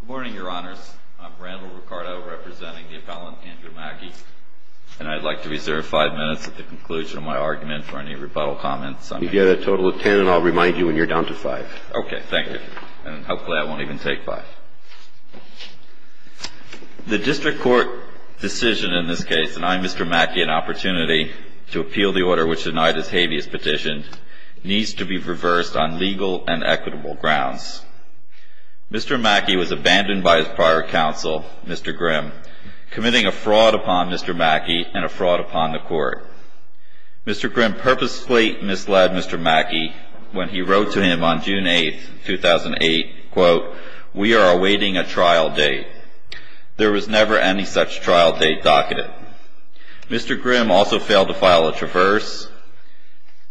Good morning, your honors. I'm Randall Ricardo, representing the appellant Andrew Mackey. And I'd like to reserve five minutes at the conclusion of my argument for any rebuttal comments. You get a total of ten, and I'll remind you when you're down to five. Okay, thank you. And hopefully I won't even take five. The district court decision in this case, and I, Mr. Mackey, an opportunity to appeal the order which denied this habeas petition, needs to be reversed on legal and equitable grounds. Mr. Mackey was abandoned by his prior counsel, Mr. Grimm, committing a fraud upon Mr. Mackey and a fraud upon the court. Mr. Grimm purposely misled Mr. Mackey when he wrote to him on June 8, 2008, quote, We are awaiting a trial date. There was never any such trial date docketed. Mr. Grimm also failed to file a traverse,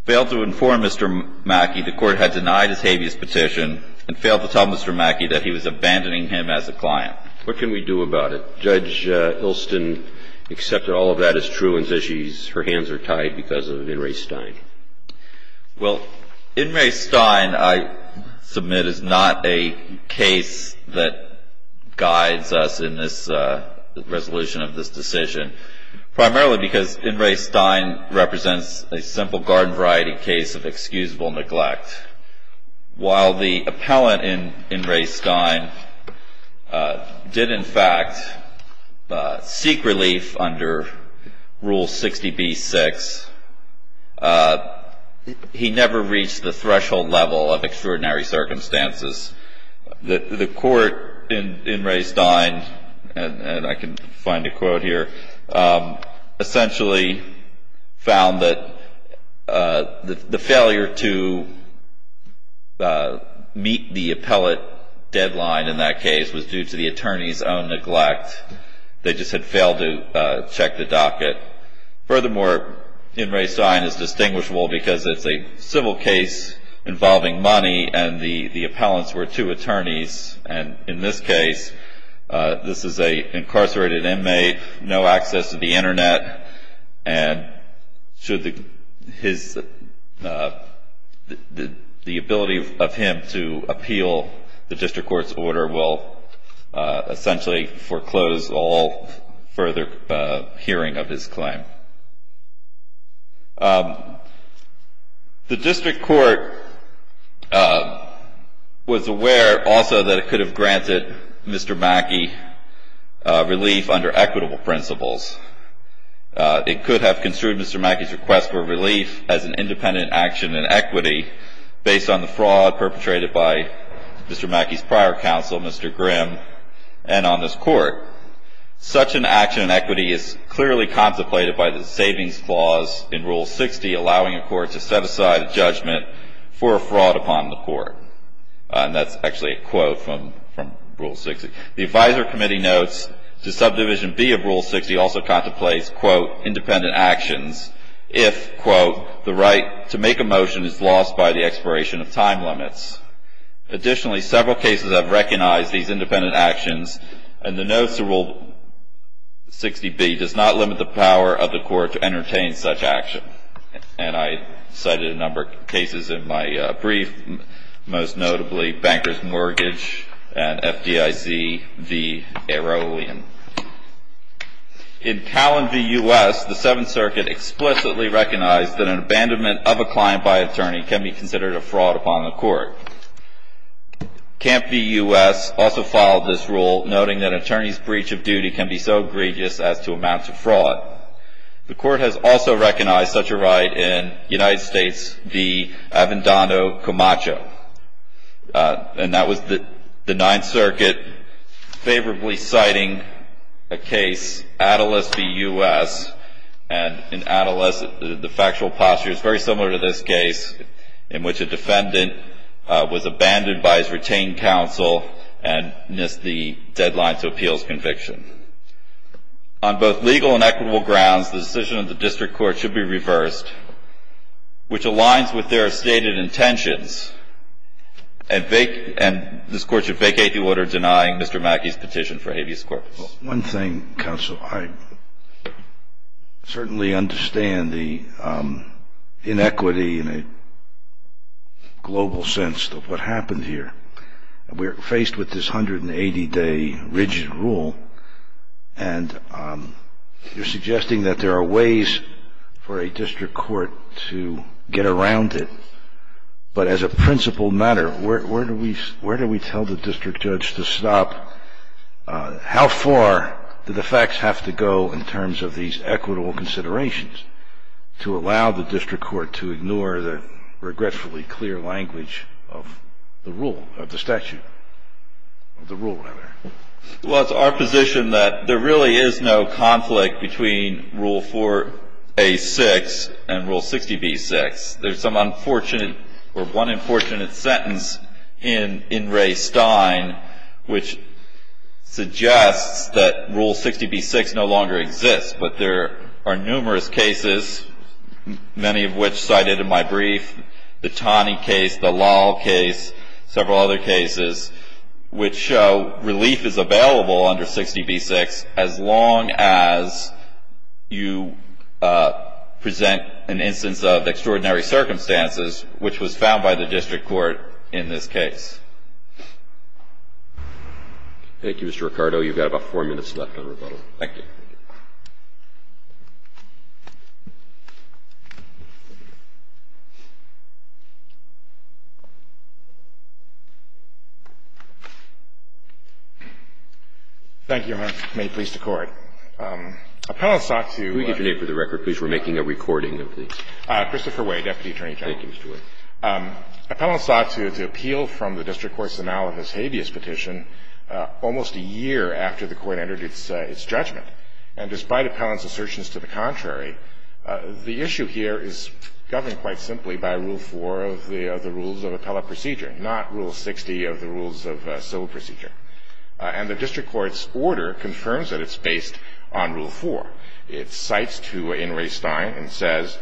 failed to inform Mr. Mackey the court had denied his habeas petition, and failed to tell Mr. Mackey that he was abandoning him as a client. What can we do about it? Judge Ilston accepted all of that as true and says her hands are tied because of In re Stein. Well, In re Stein, I submit, is not a case that guides us in this resolution of this decision. Primarily because In re Stein represents a simple garden variety case of excusable neglect. While the appellant in In re Stein did, in fact, seek relief under Rule 60B-6, he never reached the threshold level of extraordinary circumstances. The court in In re Stein, and I can find a quote here, essentially found that the failure to meet the appellate deadline in that case was due to the attorney's own neglect. They just had failed to check the docket. Furthermore, In re Stein is distinguishable because it's a civil case involving money, and the appellants were two attorneys. And in this case, this is an incarcerated inmate, no access to the internet, and should the ability of him to appeal the district court's order will essentially foreclose all further hearing of his claim. The district court was aware also that it could have granted Mr. Mackey relief under equitable principles. It could have construed Mr. Mackey's request for relief as an independent action in equity based on the fraud perpetrated by Mr. Mackey's prior counsel, Mr. Grimm, and on this court. Such an action in equity is clearly contemplated by the savings clause in Rule 60, allowing a court to set aside a judgment for a fraud upon the court. And that's actually a quote from Rule 60. The advisory committee notes that Subdivision B of Rule 60 also contemplates, quote, independent actions if, quote, the right to make a motion is lost by the expiration of time limits. Additionally, several cases have recognized these independent actions, and the notes of Rule 60B does not limit the power of the court to entertain such action. And I cited a number of cases in my brief, most notably Banker's Mortgage and FDIZ v. Aeroleon. In Callan v. U.S., the Seventh Circuit explicitly recognized that an abandonment of a client by attorney can be considered a fraud upon the court. Camp v. U.S. also filed this rule, noting that an attorney's breach of duty can be so egregious as to amount to fraud. The court has also recognized such a right in United States v. Avendano Camacho. And that was the Ninth Circuit favorably citing a case, Attalus v. U.S., and in Attalus, the factual posture is very similar to this case, in which a defendant was abandoned by his retained counsel and missed the deadline to appeals conviction. On both legal and equitable grounds, the decision of the district court should be reversed, which aligns with their stated intentions, and this court should vacate the order denying Mr. Mackey's petition for habeas corpus. One thing, counsel, I certainly understand the inequity in a global sense of what happened here. We're faced with this 180-day rigid rule, and you're suggesting that there are ways for a district court to get around it, but as a principled matter, where do we tell the district judge to stop? How far do the facts have to go in terms of these equitable considerations to allow the district court to ignore the regretfully clear language of the rule, of the statute? The rule, rather. Well, it's our position that there really is no conflict between Rule 4a.6 and Rule 60b.6. There's some unfortunate, or one unfortunate sentence in Ray Stein, which suggests that Rule 60b.6 no longer exists, but there are numerous cases, many of which cited in my brief, the Taney case, the Lal case, several other cases, which show relief is available under 60b.6 as long as you present an instance of extraordinary circumstances, which was found by the district court in this case. Thank you, Mr. Ricardo. You've got about four minutes left on rebuttal. Thank you. Thank you, Your Honor. May it please the Court. Appellant sought to — Could we get your name for the record, please? We're making a recording of this. Christopher Way, Deputy Attorney General. Thank you, Mr. Way. Appellant sought to appeal from the district court's analysis habeas petition The district court's analysis of the Habeas Petition was not sufficient. And despite Appellant's assertions to the contrary, the issue here is governed quite simply by Rule 4 of the Rules of Appellate Procedure, not Rule 60 of the Rules of Civil Procedure. And the district court's order confirms that it's based on Rule 4. It cites to in Ray Stein and says,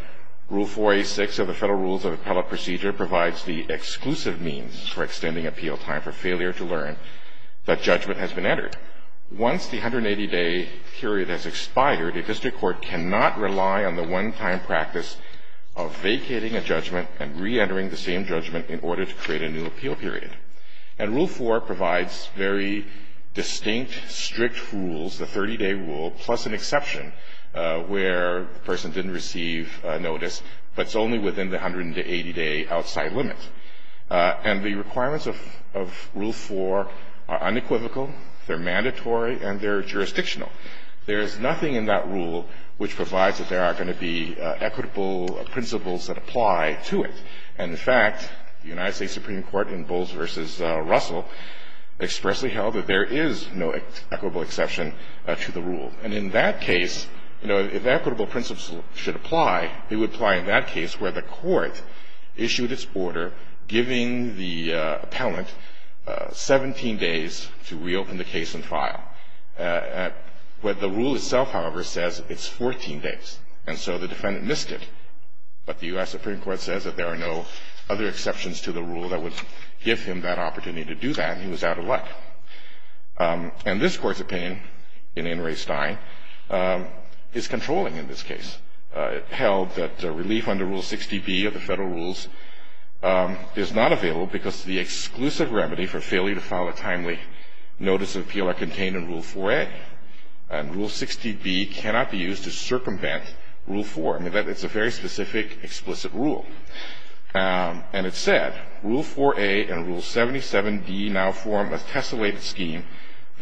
Rule 4A.6 of the Federal Rules of Appellate Procedure provides the exclusive means for extending appeal time for failure to learn that judgment has been entered. Once the 180-day period has expired, a district court cannot rely on the one-time practice of vacating a judgment and reentering the same judgment in order to create a new appeal period. And Rule 4 provides very distinct, strict rules, the 30-day rule, plus an exception where the person didn't receive notice, but it's only within the 180-day outside limit. And the requirements of Rule 4 are unequivocal, they're mandatory, and they're jurisdictional. There is nothing in that rule which provides that there are going to be equitable principles that apply to it. And, in fact, the United States Supreme Court in Bowles v. Russell expressly held that there is no equitable exception to the rule. And in that case, you know, if equitable principles should apply, it would apply in that case where the court issued its order giving the appellant 17 days to reopen the case and file. Where the rule itself, however, says it's 14 days, and so the defendant missed it. But the U.S. Supreme Court says that there are no other exceptions to the rule that would give him that opportunity to do that, and he was out of luck. And this court's opinion in In re Stein is controlling in this case. It held that relief under Rule 60B of the federal rules is not available because the exclusive remedy for failure to file a timely notice of appeal are contained in Rule 4A. And Rule 60B cannot be used to circumvent Rule 4. I mean, it's a very specific, explicit rule. And it said, Rule 4A and Rule 77D now form a tessellated scheme.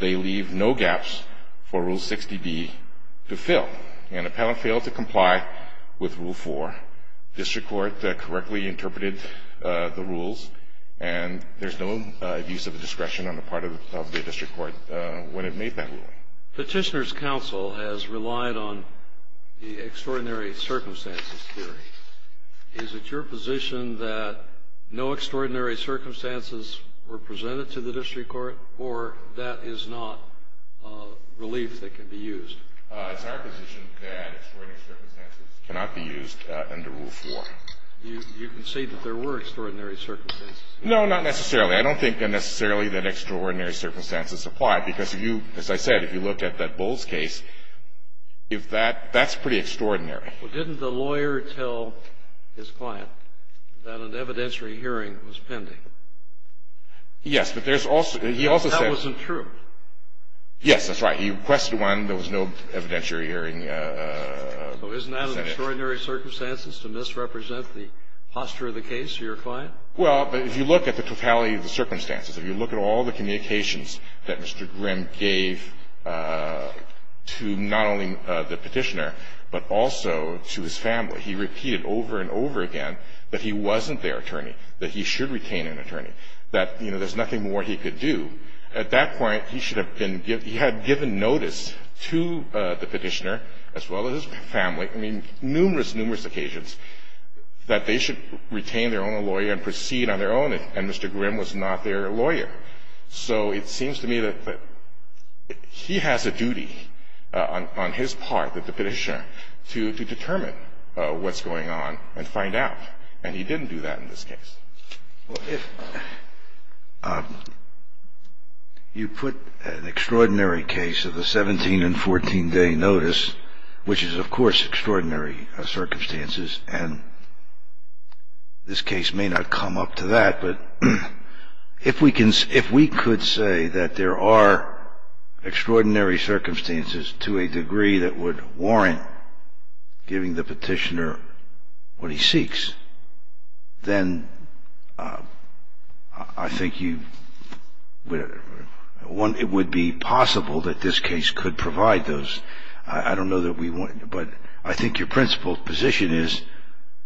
They leave no gaps for Rule 60B to fill. And appellant failed to comply with Rule 4. District Court correctly interpreted the rules, and there's no abuse of discretion on the part of the district court when it made that ruling. Petitioner's counsel has relied on the extraordinary circumstances theory. Is it your position that no extraordinary circumstances were presented to the district court, or that is not relief that can be used? It's our position that extraordinary circumstances cannot be used under Rule 4. You concede that there were extraordinary circumstances. No, not necessarily. I don't think necessarily that extraordinary circumstances apply, because if you, as I said, if you look at that Bowles case, if that — that's pretty extraordinary. Well, didn't the lawyer tell his client that an evidentiary hearing was pending? Yes. But there's also — he also said — That wasn't true. Yes, that's right. He requested one. There was no evidentiary hearing presented. So isn't that an extraordinary circumstances to misrepresent the posture of the case to your client? Well, if you look at the totality of the circumstances, if you look at all the communications that Mr. Grimm gave to not only the Petitioner, but also to his family, he repeated over and over again that he wasn't their attorney, that he should retain an attorney, that, you know, there's nothing more he could do. At that point, he should have been — he had given notice to the Petitioner as well as his family, I mean, numerous, numerous occasions, that they should retain their own lawyer and proceed on their own, and Mr. Grimm was not their lawyer. So it seems to me that he has a duty on his part, that the Petitioner, to determine what's going on and find out, and he didn't do that in this case. Well, if you put an extraordinary case of a 17- and 14-day notice, which is, of course, extraordinary circumstances, and this case may not come up to that, but if we could say that there are extraordinary circumstances to a degree that would warrant giving the Petitioner what he seeks, then I think you — it would be possible that this case could provide those. I don't know that we want — but I think your principled position is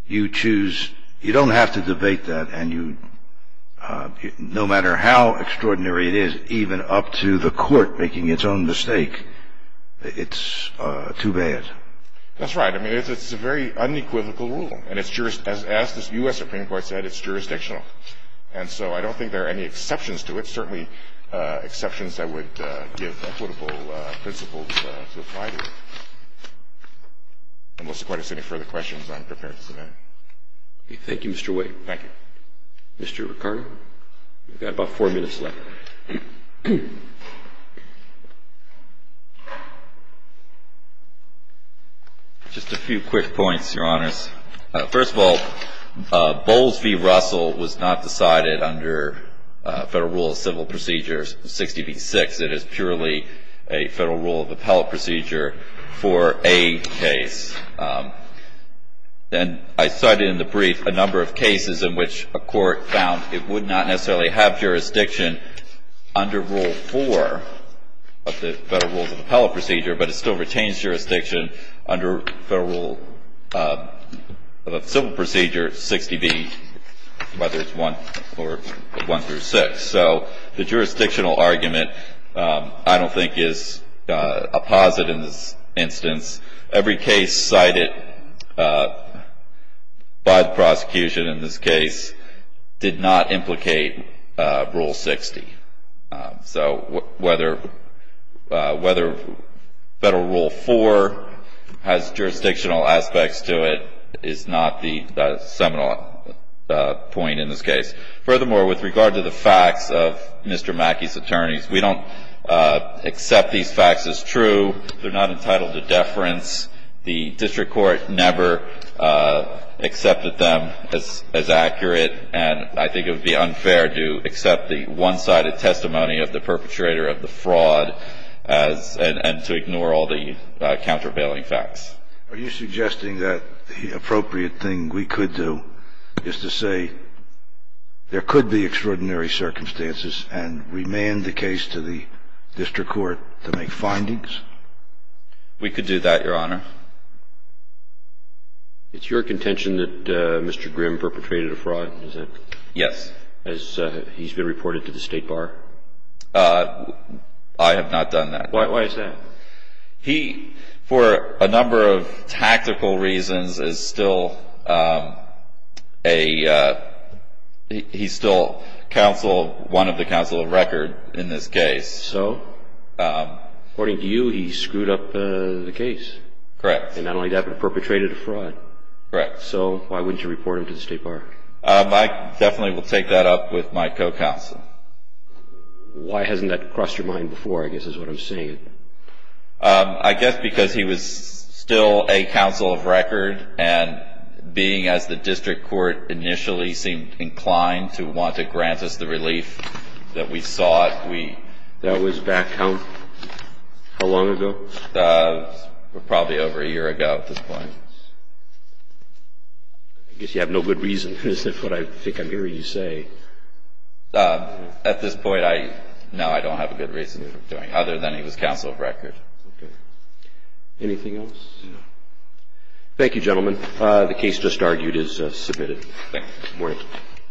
you choose — you don't have to debate that, and you — no matter how extraordinary it is, even up to the court making its own mistake, it's too bad. That's right. I mean, it's a very unequivocal rule, and it's — as the U.S. Supreme Court said, it's jurisdictional. And so I don't think there are any exceptions to it, certainly exceptions that would give equitable principles to apply to it. Unless the Court has any further questions, I'm prepared to submit. Okay. Thank you, Mr. Wade. Thank you. Mr. Riccardo, you've got about four minutes left. Just a few quick points, Your Honors. First of all, Bowles v. Russell was not decided under Federal Rule of Civil Procedure 60b-6. It is purely a Federal Rule of Appellate Procedure for a case. And I cited in the brief a number of cases in which a court found it would not necessarily have jurisdiction under Rule 4 of the Federal Rules of Appellate Procedure, but it still retains jurisdiction under Federal Rule of Civil Procedure 60b, whether it's 1 or 1 through 6. So the jurisdictional argument, I don't think, is a posit in this instance. Every case cited by the prosecution in this case did not implicate Rule 60. So whether Federal Rule 4 has jurisdictional aspects to it is not the seminal point in this case. Furthermore, with regard to the facts of Mr. Mackey's attorneys, we don't accept these facts as true. They're not entitled to deference. The district court never accepted them as accurate, and I think it would be unfair to accept the one-sided testimony of the perpetrator of the fraud and to ignore all the countervailing facts. Are you suggesting that the appropriate thing we could do is to say there could be extraordinary circumstances and remand the case to the district court to make findings? We could do that, Your Honor. It's your contention that Mr. Grimm perpetrated a fraud, is it? Yes. Has he been reported to the State Bar? I have not done that. Why is that? He, for a number of tactical reasons, is still one of the counsel of record in this case. So? According to you, he screwed up the case. Correct. And not only that, but perpetrated a fraud. Correct. So why wouldn't you report him to the State Bar? I definitely will take that up with my co-counsel. Why hasn't that crossed your mind before, I guess, is what I'm seeing? I guess because he was still a counsel of record and being, as the district court initially seemed inclined to want to grant us the relief that we sought. That was back how long ago? Probably over a year ago at this point. I guess you have no good reason. Is that what I think I'm hearing you say? At this point, no, I don't have a good reason for doing it, other than he was counsel of record. Okay. Anything else? No. Thank you, gentlemen. The case just argued is submitted. Thank you. Good morning.